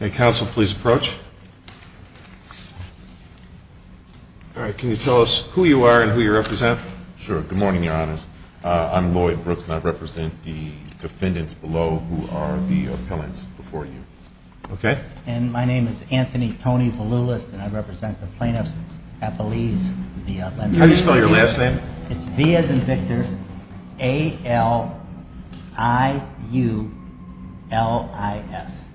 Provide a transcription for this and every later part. Okay, counsel, please approach. All right, can you tell us who you are and who you represent? Sure. Good morning, Your Honors. I'm Lloyd Brooks, and I represent the defendants below who are the appellants before you. Okay. And my name is Anthony Tony Valoulis, and I represent the plaintiffs at the Lees v. Lenz. How do you spell your last name? It's V as in Victor, A-L-I-U-L-I-S.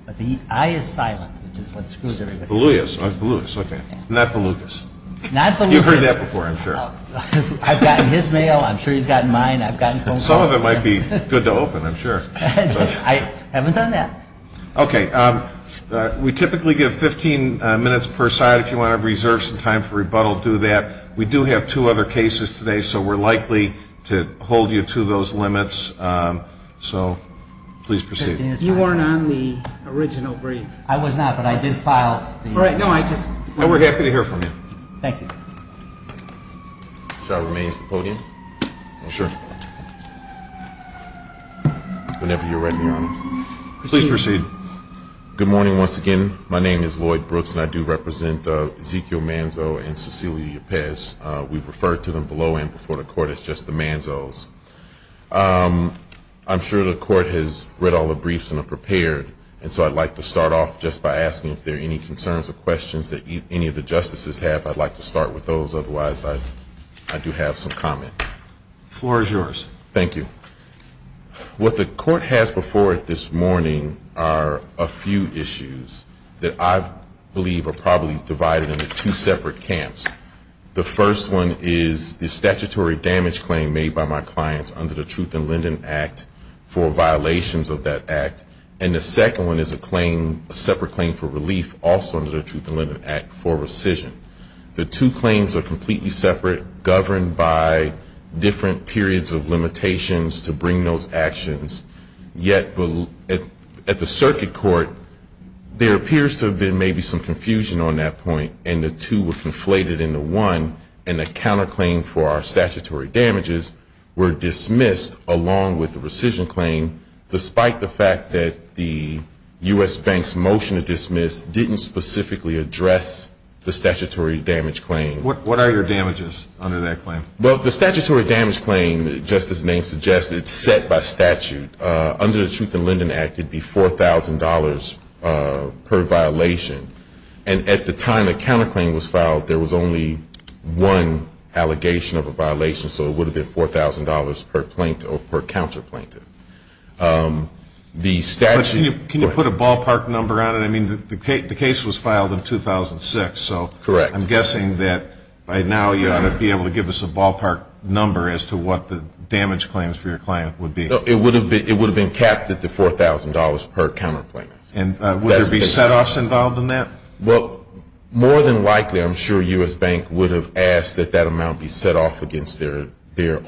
But the I is silent, which is what screws everybody. Valoulis. I'm Valoulis. Okay. Not the Lucas. Not the Lucas. You've heard that before, I'm sure. I've gotten his mail. I'm sure he's gotten mine. I've gotten phone calls. Some of them might be good to open, I'm sure. I haven't done that. Okay. We typically give 15 minutes per side if you want to reserve some time for rebuttal, do that. We do have two other cases today, so we're likely to hold you to those limits. So please proceed. You weren't on the original brief. I was not, but I did file the brief. We're happy to hear from you. Thank you. Shall I remain at the podium? Sure. Whenever you're ready, Your Honors. Please proceed. Good morning, once again. My name is Lloyd Brooks, and I do represent Ezekiel Manzo and Cecilia Ypez. We've referred to them below and before the Court as just the Manzos. I'm sure the Court has read all the briefs and are prepared, and so I'd like to start off just by asking if there are any concerns or questions that any of the Justices have. I'd like to start with those. Otherwise, I do have some comments. The floor is yours. Thank you. What the Court has before it this morning are a few issues that I believe are probably divided into two separate camps. The first one is the statutory damage claim made by my clients under the Truth in Lending Act for violations of that act, and the second one is a separate claim for relief also under the Truth in Lending Act for rescission. The two claims are completely separate, governed by different periods of limitations to bring those actions. Yet at the circuit court, there appears to have been maybe some confusion on that point, and the two were conflated into one, and the counterclaim for our statutory damages were dismissed, along with the rescission claim, despite the fact that the U.S. Bank's motion to dismiss didn't specifically address the statutory damage claim. What are your damages under that claim? Well, the statutory damage claim, as the Justice's name suggests, it's set by statute. Under the Truth in Lending Act, it would be $4,000 per violation, and at the time the counterclaim was filed, there was only one allegation of a violation, so it would have been $4,000 per plaintiff or per counterplaintiff. Can you put a ballpark number on it? I mean, the case was filed in 2006, so I'm guessing that by now you ought to be able to give us a ballpark number as to what the damage claims for your client would be. It would have been capped at the $4,000 per counterplaint. And would there be setoffs involved in that? Well, more than likely, I'm sure U.S. Bank would have asked that that amount be set off against their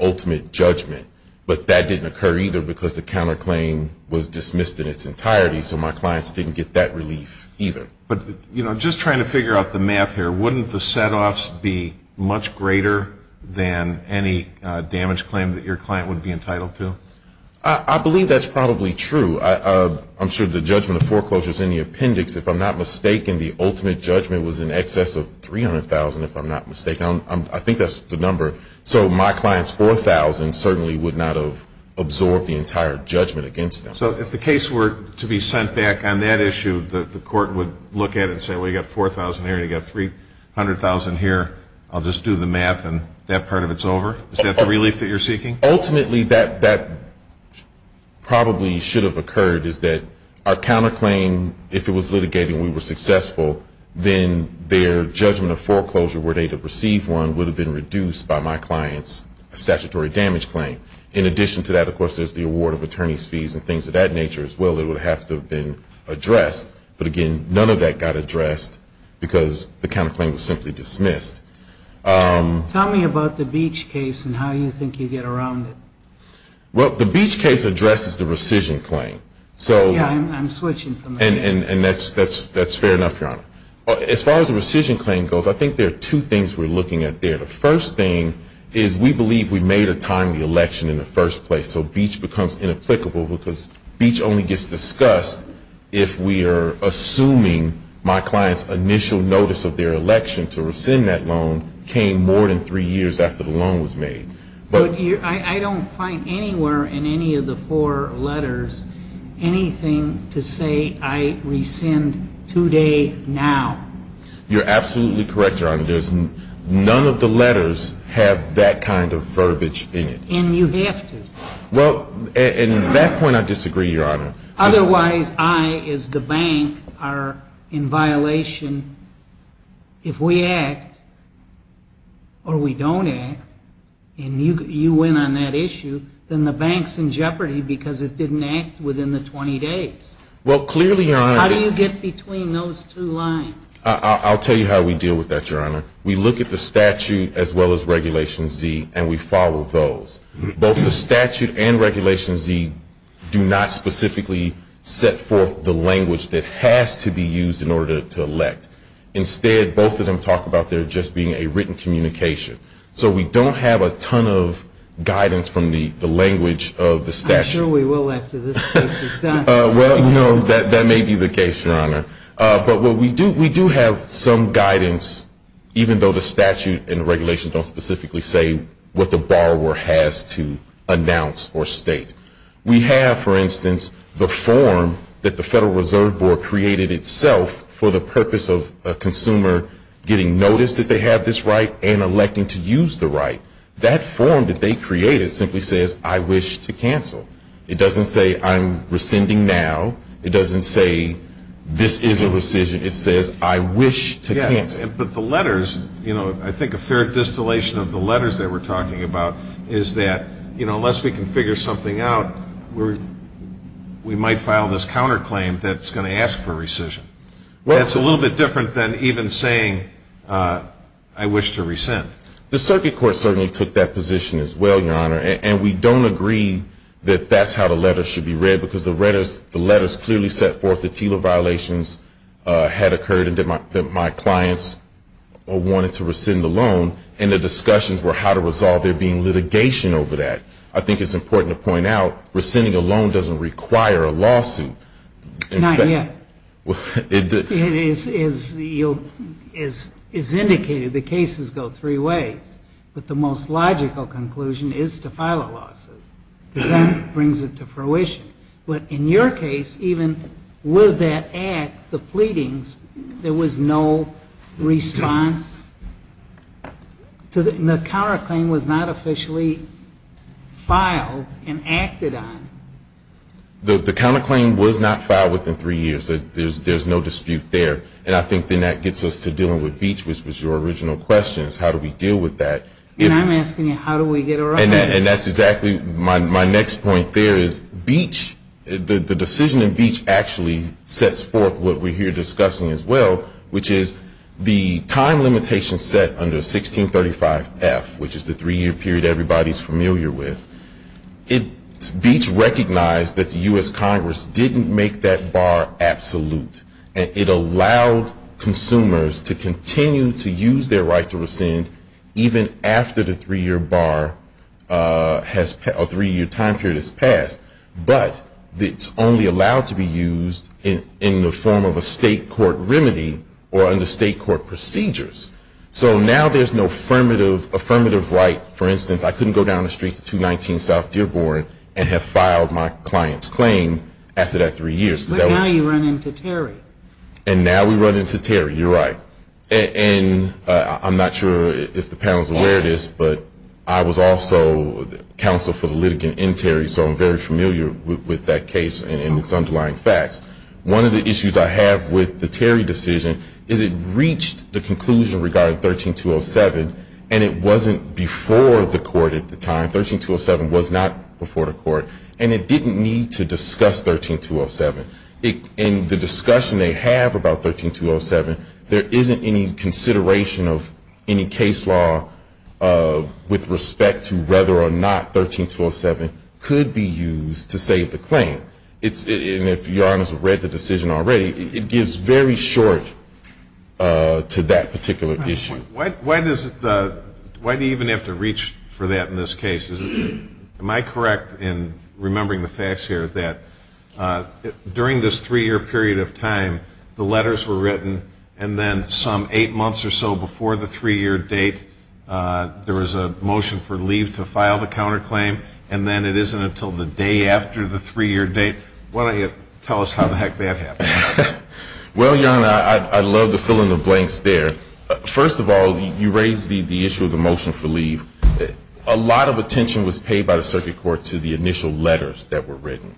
ultimate judgment, but that didn't occur either because the counterclaim was dismissed in its entirety, so my clients didn't get that relief either. But, you know, just trying to figure out the math here, wouldn't the setoffs be much greater than any damage claim that your client would be entitled to? I believe that's probably true. I'm sure the judgment of foreclosure is in the appendix. If I'm not mistaken, the ultimate judgment was in excess of $300,000, if I'm not mistaken. I think that's the number. So my client's $4,000 certainly would not have absorbed the entire judgment against them. So if the case were to be sent back on that issue, the court would look at it and say, well, you've got $4,000 here and you've got $300,000 here. I'll just do the math and that part of it's over? Is that the relief that you're seeking? Ultimately, that probably should have occurred is that our counterclaim, if it was litigated and we were successful, then their judgment of foreclosure were they to receive one would have been reduced by my client's statutory damage claim. In addition to that, of course, there's the award of attorney's fees and things of that nature as well that would have to have been addressed. But, again, none of that got addressed because the counterclaim was simply dismissed. Tell me about the Beach case and how you think you get around it. Well, the Beach case addresses the rescission claim. Yeah, I'm switching from that. And that's fair enough, Your Honor. As far as the rescission claim goes, I think there are two things we're looking at there. The first thing is we believe we made a timely election in the first place, so Beach becomes inapplicable because Beach only gets discussed if we are assuming my client's initial notice of their election to rescind that loan came more than three years after the loan was made. But I don't find anywhere in any of the four letters anything to say I rescind today, now. You're absolutely correct, Your Honor. None of the letters have that kind of verbiage in it. And you have to. Well, at that point I disagree, Your Honor. Otherwise, I, as the bank, are in violation. If we act or we don't act, and you went on that issue, then the bank's in jeopardy because it didn't act within the 20 days. Well, clearly, Your Honor. How do you get between those two lines? I'll tell you how we deal with that, Your Honor. We look at the statute as well as Regulation Z and we follow those. Both the statute and Regulation Z do not specifically set forth the language that has to be used in order to elect. Instead, both of them talk about there just being a written communication. So we don't have a ton of guidance from the language of the statute. I'm sure we will after this case is done. Well, no, that may be the case, Your Honor. But we do have some guidance, even though the statute and regulations don't specifically say what the borrower has to announce or state. We have, for instance, the form that the Federal Reserve Board created itself for the purpose of a consumer getting notice that they have this right and electing to use the right. That form that they created simply says, I wish to cancel. It doesn't say, I'm rescinding now. It doesn't say, this is a rescission. It says, I wish to cancel. But the letters, you know, I think a fair distillation of the letters that we're talking about is that, you know, unless we can figure something out, we might file this counterclaim that's going to ask for rescission. That's a little bit different than even saying, I wish to rescind. The circuit court certainly took that position as well, Your Honor. And we don't agree that that's how the letters should be read because the letters clearly set forth that TILA violations had occurred and that my clients wanted to rescind the loan. And the discussions were how to resolve there being litigation over that. I think it's important to point out rescinding a loan doesn't require a lawsuit. Not yet. It is indicated the cases go three ways. But the most logical conclusion is to file a lawsuit. Because that brings it to fruition. But in your case, even with that act, the pleadings, there was no response? The counterclaim was not officially filed and acted on. The counterclaim was not filed within three years. There's no dispute there. And I think then that gets us to dealing with Beach, which was your original question, is how do we deal with that? And I'm asking you, how do we get around that? And that's exactly my next point there is Beach, the decision in Beach actually sets forth what we're here discussing as well, which is the time limitation set under 1635F, which is the three-year period everybody's familiar with. Beach recognized that the U.S. Congress didn't make that bar absolute. It allowed consumers to continue to use their right to rescind even after the three-year time period has passed. But it's only allowed to be used in the form of a state court remedy or under state court procedures. So now there's no affirmative right. For instance, I couldn't go down the street to 219 South Dearborn and have filed my client's claim after that three years. But now you run into Terry. And now we run into Terry. You're right. And I'm not sure if the panel is aware of this, but I was also counsel for the litigant in Terry, so I'm very familiar with that case and its underlying facts. One of the issues I have with the Terry decision is it reached the conclusion regarding 13207, and it wasn't before the court at the time. 13207 was not before the court. And it didn't need to discuss 13207. In the discussion they have about 13207, there isn't any consideration of any case law with respect to whether or not 13207 could be used to save the claim. And if Your Honors have read the decision already, it gives very short to that particular issue. Why do you even have to reach for that in this case? Am I correct in remembering the facts here that during this three-year period of time, the letters were written and then some eight months or so before the three-year date, there was a motion for leave to file the counterclaim, and then it isn't until the day after the three-year date? Why don't you tell us how the heck that happened? Well, Your Honor, I'd love to fill in the blanks there. First of all, you raised the issue of the motion for leave. A lot of attention was paid by the circuit court to the initial letters that were written.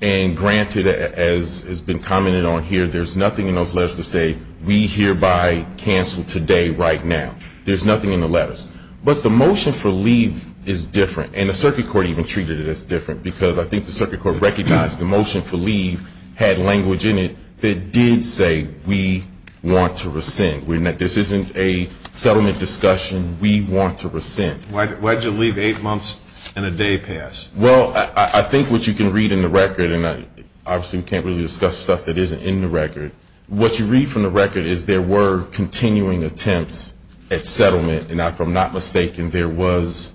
And granted, as has been commented on here, there's nothing in those letters to say, we hereby cancel today right now. There's nothing in the letters. But the motion for leave is different. And the circuit court even treated it as different, because I think the circuit court recognized the motion for leave had language in it that did say we want to rescind. This isn't a settlement discussion. We want to rescind. Why did you leave eight months and a day past? Well, I think what you can read in the record, and obviously we can't really discuss stuff that isn't in the record, what you read from the record is there were continuing attempts at settlement. And if I'm not mistaken, there was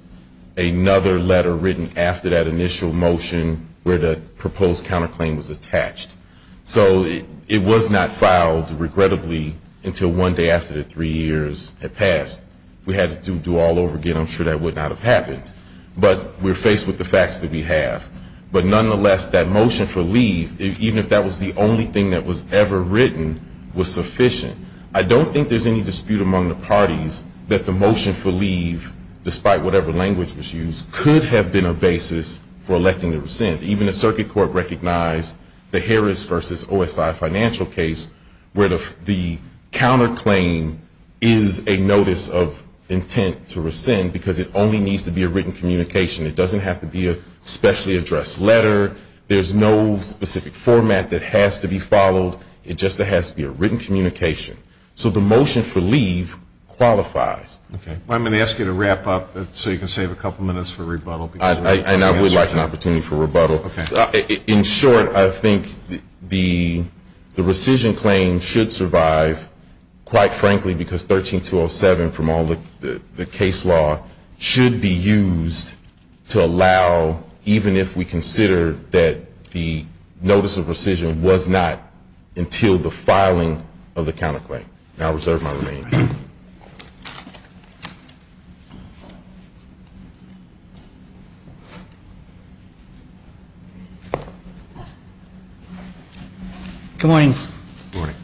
another letter written after that initial motion where the proposed counterclaim was attached. So it was not filed, regrettably, until one day after the three years had passed. If we had to do it all over again, I'm sure that would not have happened. But we're faced with the facts that we have. But nonetheless, that motion for leave, even if that was the only thing that was ever written, was sufficient. I don't think there's any dispute among the parties that the motion for leave, despite whatever language was used, could have been a basis for electing to rescind. Even the circuit court recognized the Harris v. OSI financial case where the counterclaim is a notice of intent to rescind because it only needs to be a written communication. It doesn't have to be a specially addressed letter. There's no specific format that has to be followed. It just has to be a written communication. So the motion for leave qualifies. I'm going to ask you to wrap up so you can save a couple minutes for rebuttal. And I would like an opportunity for rebuttal. In short, I think the rescission claim should survive, quite frankly, because 13207 from all the case law should be used to allow, even if we consider that the notice of rescission was not until the filing of the counterclaim. And I'll reserve my remaining time. Good morning. Good morning.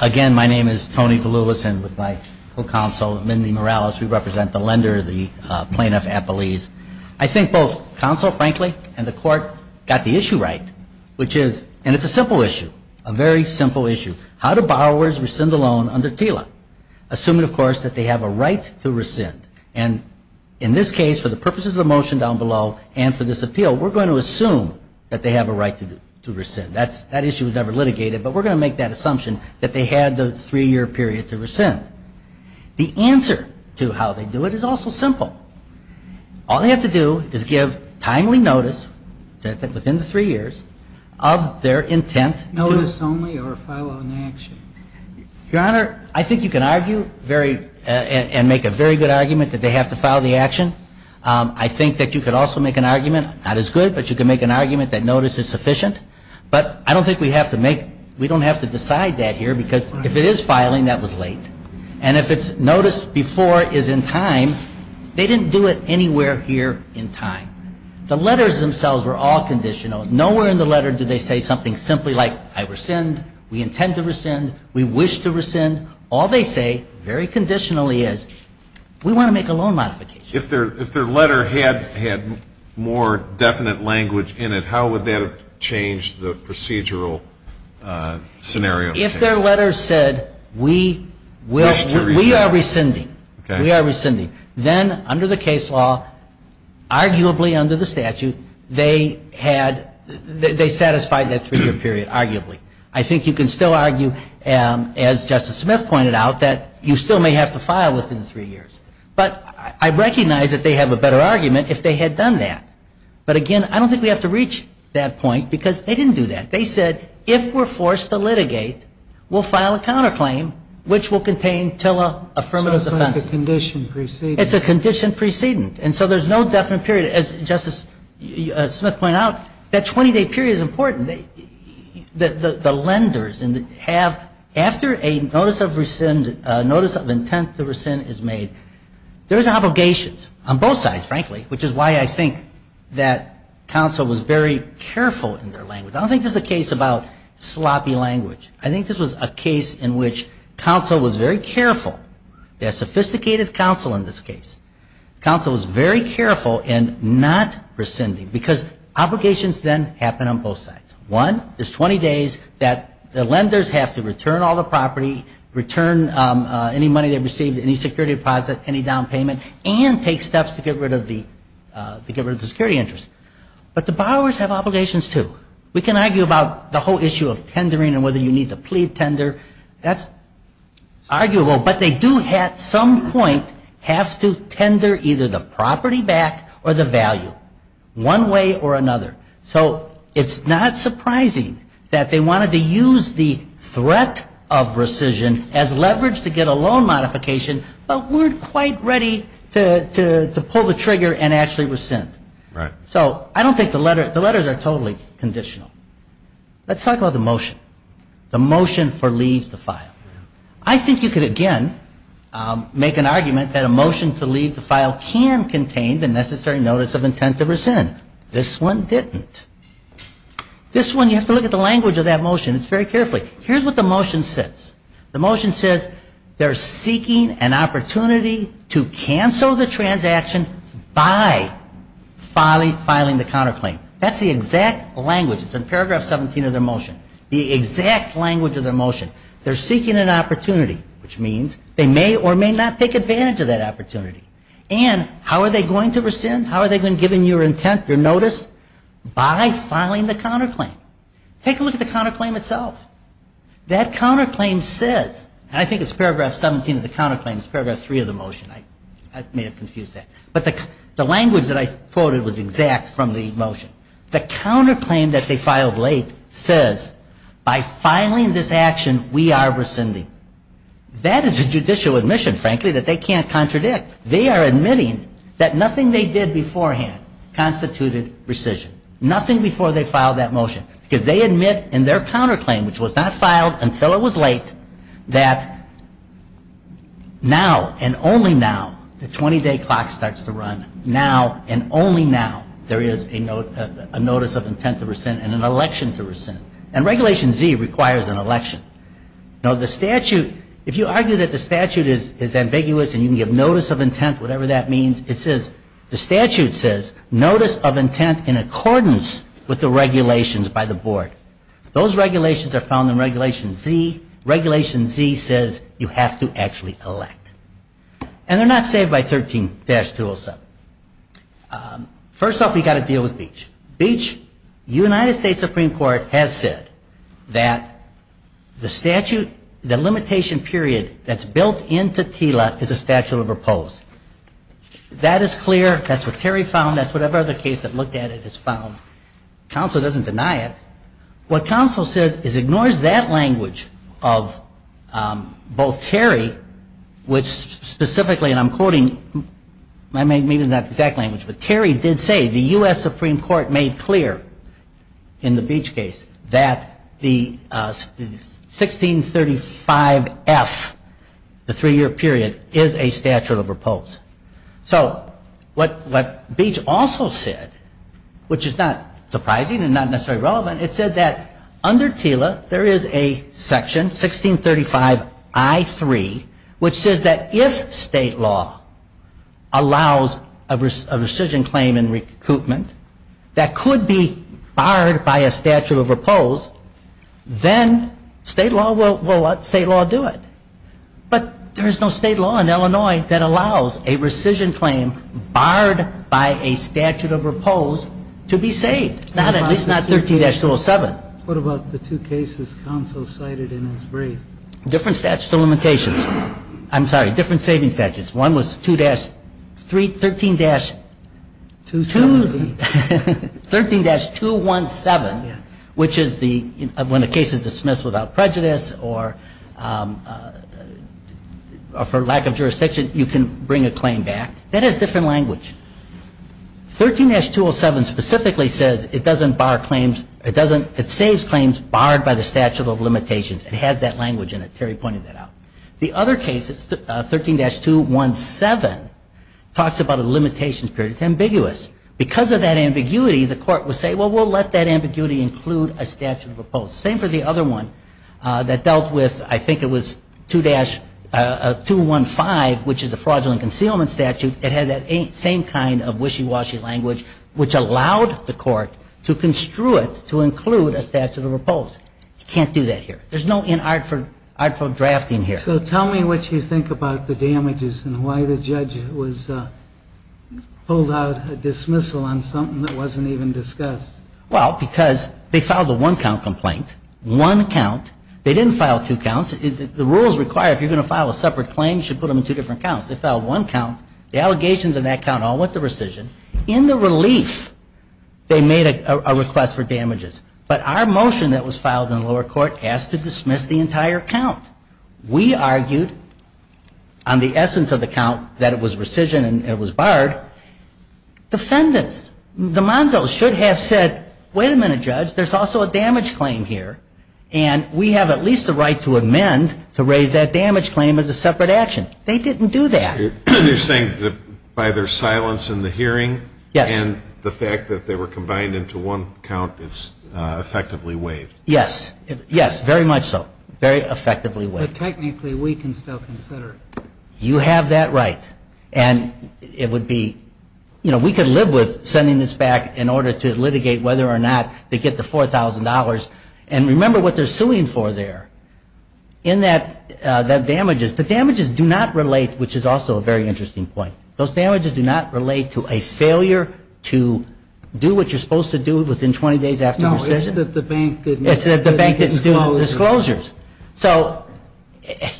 Again, my name is Tony Vallulisan with my co-counsel Mindy Morales. We represent the lender, the plaintiff at Belize. I think both counsel, frankly, and the court got the issue right, which is, and it's a simple issue, a very simple issue, how do borrowers rescind a loan under TILA? Assuming, of course, that they have a right to rescind. And in this case, for the purposes of the motion down below and for this appeal, we're going to assume that they have a right to rescind. That issue was never litigated, but we're going to make that assumption that they had the three-year period to rescind. The answer to how they do it is also simple. All they have to do is give timely notice, within the three years, of their intent to ---- Notice only or file an action? Your Honor, I think you can argue very, and make a very good argument that they have to file the action. I think that you could also make an argument, not as good, but you could make an argument that notice is sufficient. But I don't think we have to make, we don't have to decide that here because if it is filing, that was late. And if it's notice before is in time, they didn't do it anywhere here in time. The letters themselves were all conditional. Nowhere in the letter did they say something simply like I rescind, we intend to rescind, we wish to rescind. All they say, very conditionally, is we want to make a loan modification. If their letter had more definite language in it, how would that have changed the procedural scenario? If their letter said we will, we are rescinding, we are rescinding, then under the case law, arguably under the statute, they had, they satisfied that three-year period, arguably. I think you can still argue, as Justice Smith pointed out, that you still may have to file within three years. But I recognize that they have a better argument if they had done that. But again, I don't think we have to reach that point because they didn't do that. They said if we're forced to litigate, we'll file a counterclaim, which will contain TILA affirmative defense. So it's like a condition preceding. It's a condition preceding. And so there's no definite period. As Justice Smith pointed out, that 20-day period is important. The lenders have, after a notice of intent to rescind is made, there's obligations on both sides, frankly, which is why I think that counsel was very careful in their language. I don't think this is a case about sloppy language. I think this was a case in which counsel was very careful. They had sophisticated counsel in this case. Counsel was very careful in not rescinding because obligations then happen on both sides. One, there's 20 days that the lenders have to return all the property, return any money they received, any security deposit, any down payment, and take steps to get rid of the security interest. But the borrowers have obligations, too. We can argue about the whole issue of tendering and whether you need to plead tender. That's arguable. But they do at some point have to tender either the property back or the value, one way or another. So it's not surprising that they wanted to use the threat of rescission as leverage to get a loan modification, but weren't quite ready to pull the trigger and actually rescind. Right. So I don't think the letters are totally conditional. Let's talk about the motion. The motion for leave to file. I think you could, again, make an argument that a motion to leave the file can contain the necessary notice of intent to rescind. This one didn't. This one, you have to look at the language of that motion. It's very careful. Here's what the motion says. The motion says they're seeking an opportunity to cancel the transaction by filing the counterclaim. That's the exact language. It's in paragraph 17 of their motion. The exact language of their motion. They're seeking an opportunity, which means they may or may not take advantage of that opportunity. And how are they going to rescind? How are they going to give you your intent, your notice? By filing the counterclaim. Take a look at the counterclaim itself. That counterclaim says, and I think it's paragraph 17 of the counterclaim. It's paragraph 3 of the motion. I may have confused that. But the language that I quoted was exact from the motion. The counterclaim that they filed late says, by filing this action, we are rescinding. That is a judicial admission, frankly, that they can't contradict. They are admitting that nothing they did beforehand constituted rescission. Nothing before they filed that motion. Because they admit in their counterclaim, which was not filed until it was late, that now and only now, the 20-day clock starts to run, now and only now, there is a notice of intent to rescind and an election to rescind. And Regulation Z requires an election. Now, the statute, if you argue that the statute is ambiguous and you can give notice of intent, whatever that means, it says, the statute says, notice of intent in accordance with the regulations by the board. Those regulations are found in Regulation Z. Regulation Z says you have to actually elect. And they're not saved by 13-207. First off, we've got to deal with Beach. United States Supreme Court has said that the statute, the limitation period that's built into TILA is a statute of repose. That is clear. That's what Terry found. That's whatever other case that looked at it has found. Counsel doesn't deny it. What counsel says is ignores that language of both Terry, which specifically, and I'm quoting, maybe not the exact language, but Terry did say the U.S. Supreme Court made clear in the Beach case that the 1635F, the three-year period, is a statute of repose. So what Beach also said, which is not surprising and not necessarily relevant, it said that under TILA, there is a section, 1635I3, which says that if state law allows a rescission claim in recoupment, that could be barred by a statute of repose, then state law will let state law do it. But there's no state law in Illinois that allows a rescission claim barred by a statute of repose to be saved. Not at least not 13-207. What about the two cases counsel cited in his brief? Different statute of limitations. I'm sorry, different saving statutes. One was 13-217, which is when a case is dismissed without prejudice or for lack of jurisdiction, you can bring a claim back. That has different language. 13-207 specifically says it doesn't bar claims. It saves claims barred by the statute of limitations. It has that language in it. Terry pointed that out. The other case, 13-217, talks about a limitations period. It's ambiguous. Because of that ambiguity, the court would say, well, we'll let that ambiguity include a statute of repose. Same for the other one that dealt with, I think it was 215, which is the fraudulent concealment statute. It had that same kind of wishy-washy language, which allowed the court to construe it to include a statute of repose. You can't do that here. There's no inartful drafting here. So tell me what you think about the damages and why the judge was pulled out of dismissal on something that wasn't even discussed. Well, because they filed a one-count complaint. One count. They didn't file two counts. The rules require if you're going to file a separate claim, you should put them in two different counts. They filed one count. The allegations in that count all went to rescission. In the relief, they made a request for damages. But our motion that was filed in the lower court asked to dismiss the entire count. We argued on the essence of the count that it was rescission and it was barred. Defendants, the Monzo's, should have said, wait a minute, Judge, there's also a damage claim here. And we have at least the right to amend to raise that damage claim as a separate action. They didn't do that. You're saying that by their silence in the hearing and the fact that they were combined into one count, it's effectively waived. Yes. Yes, very much so. Very effectively waived. But technically, we can still consider it. You have that right. And it would be, you know, we could live with sending this back in order to litigate whether or not they get the $4,000. And remember what they're suing for there. In that damages, the damages do not relate, which is also a very interesting point. Those damages do not relate to a failure to do what you're supposed to do within 20 days after rescission. No, it's that the bank didn't do the disclosures. So,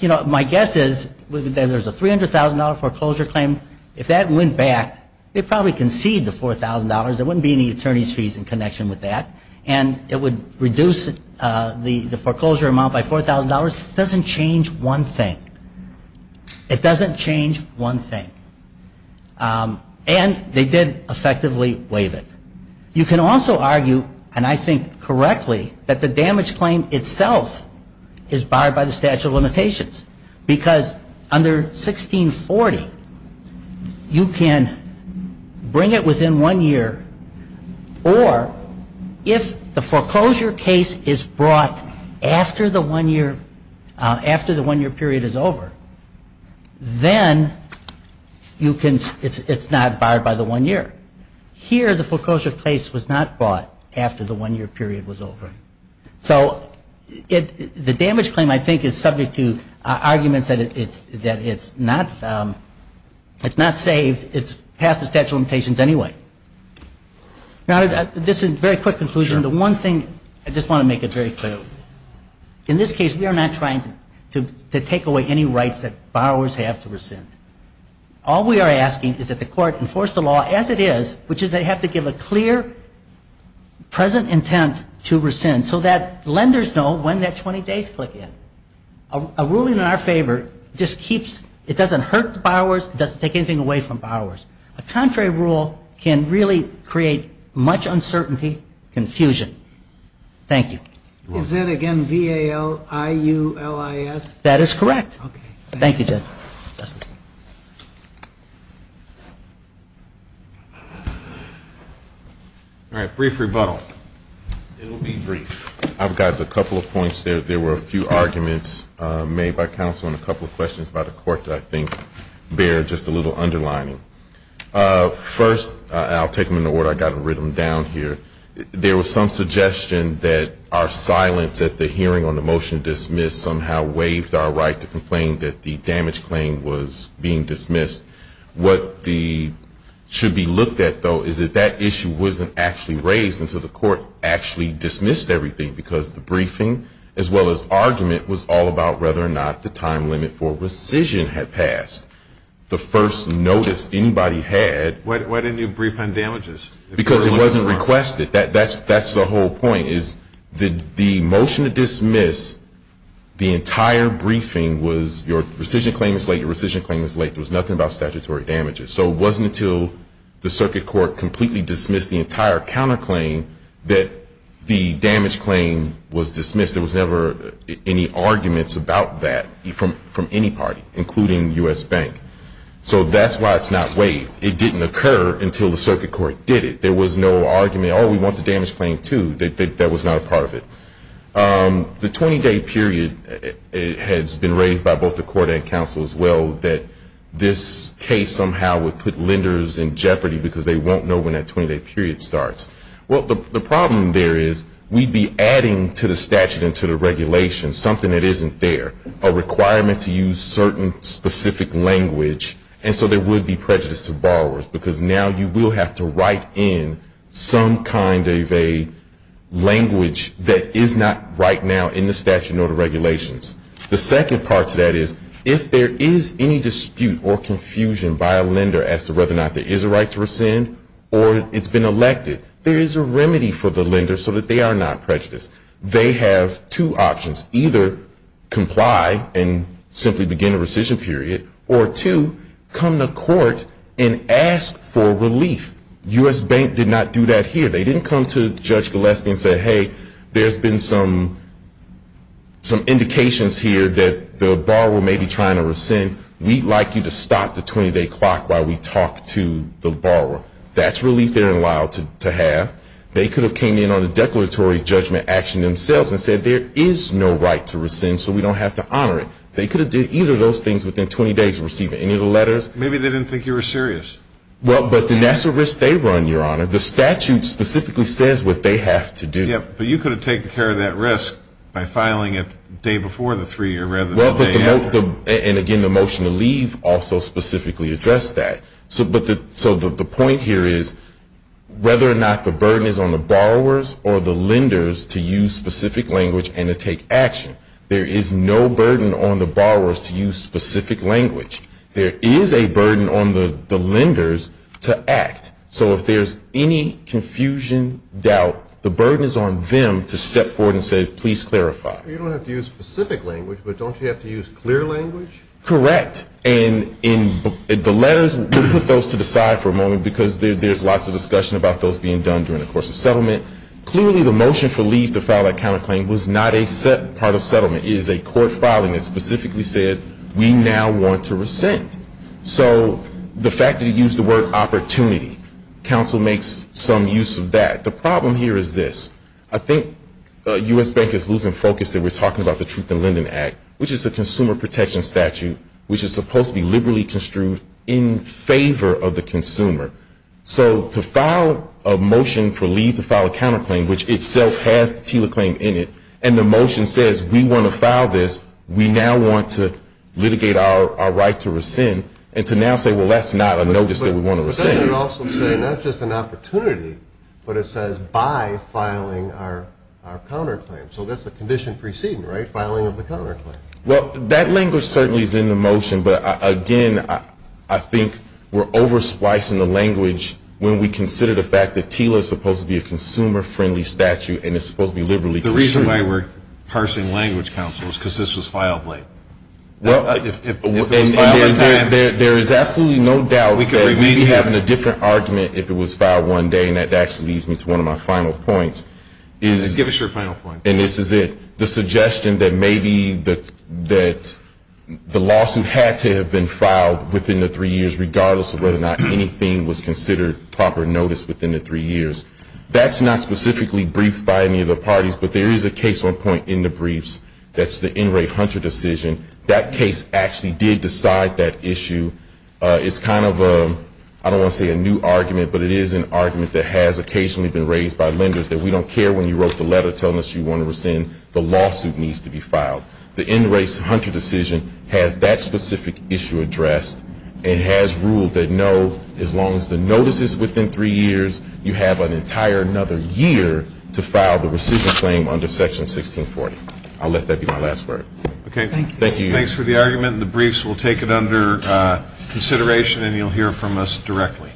you know, my guess is there's a $300,000 foreclosure claim. If that went back, they'd probably concede the $4,000. There wouldn't be any attorney's fees in connection with that. And it would reduce the foreclosure amount by $4,000. It doesn't change one thing. It doesn't change one thing. And they did effectively waive it. You can also argue, and I think correctly, that the damage claim itself is barred by the statute of limitations. Because under 1640, you can bring it within one year, or if the foreclosure case is brought after the one-year period is over, then it's not barred by the one year. Here, the foreclosure case was not brought after the one-year period was over. So the damage claim, I think, is subject to arguments that it's not saved. It's past the statute of limitations anyway. Now, this is a very quick conclusion. The one thing, I just want to make it very clear. In this case, we are not trying to take away any rights that borrowers have to rescind. All we are asking is that the court enforce the law as it is, which is they have to give a clear, present intent to rescind, so that lenders know when that 20 days click in. A ruling in our favor just keeps, it doesn't hurt the borrowers, it doesn't take anything away from borrowers. A contrary rule can really create much uncertainty, confusion. Thank you. Is that, again, V-A-L-I-U-L-I-S? That is correct. Thank you, Judge. All right, brief rebuttal. It will be brief. I've got a couple of points. There were a few arguments made by counsel and a couple of questions by the court that I think bear just a little underlining. First, I'll take them in order. I've got them written down here. There was some suggestion that our silence at the hearing on the motion to dismiss somehow waived our right to complain that the damage claim was being dismissed. What should be looked at, though, is that that issue wasn't actually raised until the court actually dismissed everything, because the briefing, as well as argument, was all about whether or not the time limit for rescission had passed. The first notice anybody had. Why didn't you brief on damages? Because it wasn't requested. That's the whole point, is the motion to dismiss the entire briefing was your rescission claim was late, your rescission claim was late. There was nothing about statutory damages. So it wasn't until the circuit court completely dismissed the entire counterclaim that the damage claim was dismissed. There was never any arguments about that from any party, including U.S. Bank. So that's why it's not waived. It didn't occur until the circuit court did it. There was no argument, oh, we want the damage claim, too. That was not a part of it. The 20-day period has been raised by both the court and counsel, as well, that this case somehow would put lenders in jeopardy because they won't know when that 20-day period starts. Well, the problem there is we'd be adding to the statute and to the regulation something that isn't there, a requirement to use certain specific language, and so there would be prejudice to borrowers because now you will have to write in some kind of a language that is not right now in the statute or the regulations. The second part to that is if there is any dispute or confusion by a lender as to whether or not there is a right to rescind or it's been elected, there is a remedy for the lender so that they are not prejudiced. They have two options. Either comply and simply begin a rescission period, or two, come to court and ask for relief. U.S. Bank did not do that here. They didn't come to Judge Gillespie and say, hey, there's been some indications here that the borrower may be trying to rescind. We'd like you to stop the 20-day clock while we talk to the borrower. That's relief they're allowed to have. They could have came in on a declaratory judgment action themselves and said there is no right to rescind, so we don't have to honor it. They could have did either of those things within 20 days of receiving any of the letters. Maybe they didn't think you were serious. Well, but that's a risk they run, Your Honor. The statute specifically says what they have to do. Yeah, but you could have taken care of that risk by filing it the day before the three-year rather than the day after. Well, and again, the motion to leave also specifically addressed that. So the point here is whether or not the burden is on the borrowers or the lenders to use specific language and to take action. There is no burden on the borrowers to use specific language. There is a burden on the lenders to act. So if there's any confusion, doubt, the burden is on them to step forward and say, please clarify. You don't have to use specific language, but don't you have to use clear language? Correct. And in the letters, we'll put those to the side for a moment because there's lots of discussion about those being done during the course of settlement. Clearly the motion for leave to file that counterclaim was not a part of settlement. It is a court filing that specifically said we now want to rescind. So the fact that you used the word opportunity, counsel makes some use of that. The problem here is this. I think U.S. Bank is losing focus that we're talking about the Truth in Lending Act, which is a consumer protection statute, which is supposed to be liberally construed in favor of the consumer. So to file a motion for leave to file a counterclaim, which itself has the TILA claim in it, and the motion says we want to file this, we now want to litigate our right to rescind, and to now say, well, that's not a notice that we want to rescind. But that would also say not just an opportunity, but it says by filing our counterclaim. So that's the condition preceding, right, filing of the counterclaim. Well, that language certainly is in the motion. But, again, I think we're over-splicing the language when we consider the fact that TILA is supposed to be a consumer-friendly statute and it's supposed to be liberally construed. The reason why we're parsing language, counsel, is because this was filed late. If it was filed on time. There is absolutely no doubt that maybe having a different argument if it was filed one day, and that actually leads me to one of my final points. Give us your final point. And this is it. The suggestion that maybe the lawsuit had to have been filed within the three years, regardless of whether or not anything was considered proper notice within the three years, that's not specifically briefed by any of the parties, but there is a case on point in the briefs. That's the NRA Hunter decision. That case actually did decide that issue. It's kind of a, I don't want to say a new argument, but it is an argument that has occasionally been raised by lenders, that we don't care when you wrote the letter telling us you want to rescind. The lawsuit needs to be filed. The NRA Hunter decision has that specific issue addressed and has ruled that no, as long as the notice is within three years, you have an entire another year to file the rescission claim under Section 1640. I'll let that be my last word. Okay. Thank you. Thanks for the argument. The briefs will take it under consideration and you'll hear from us directly.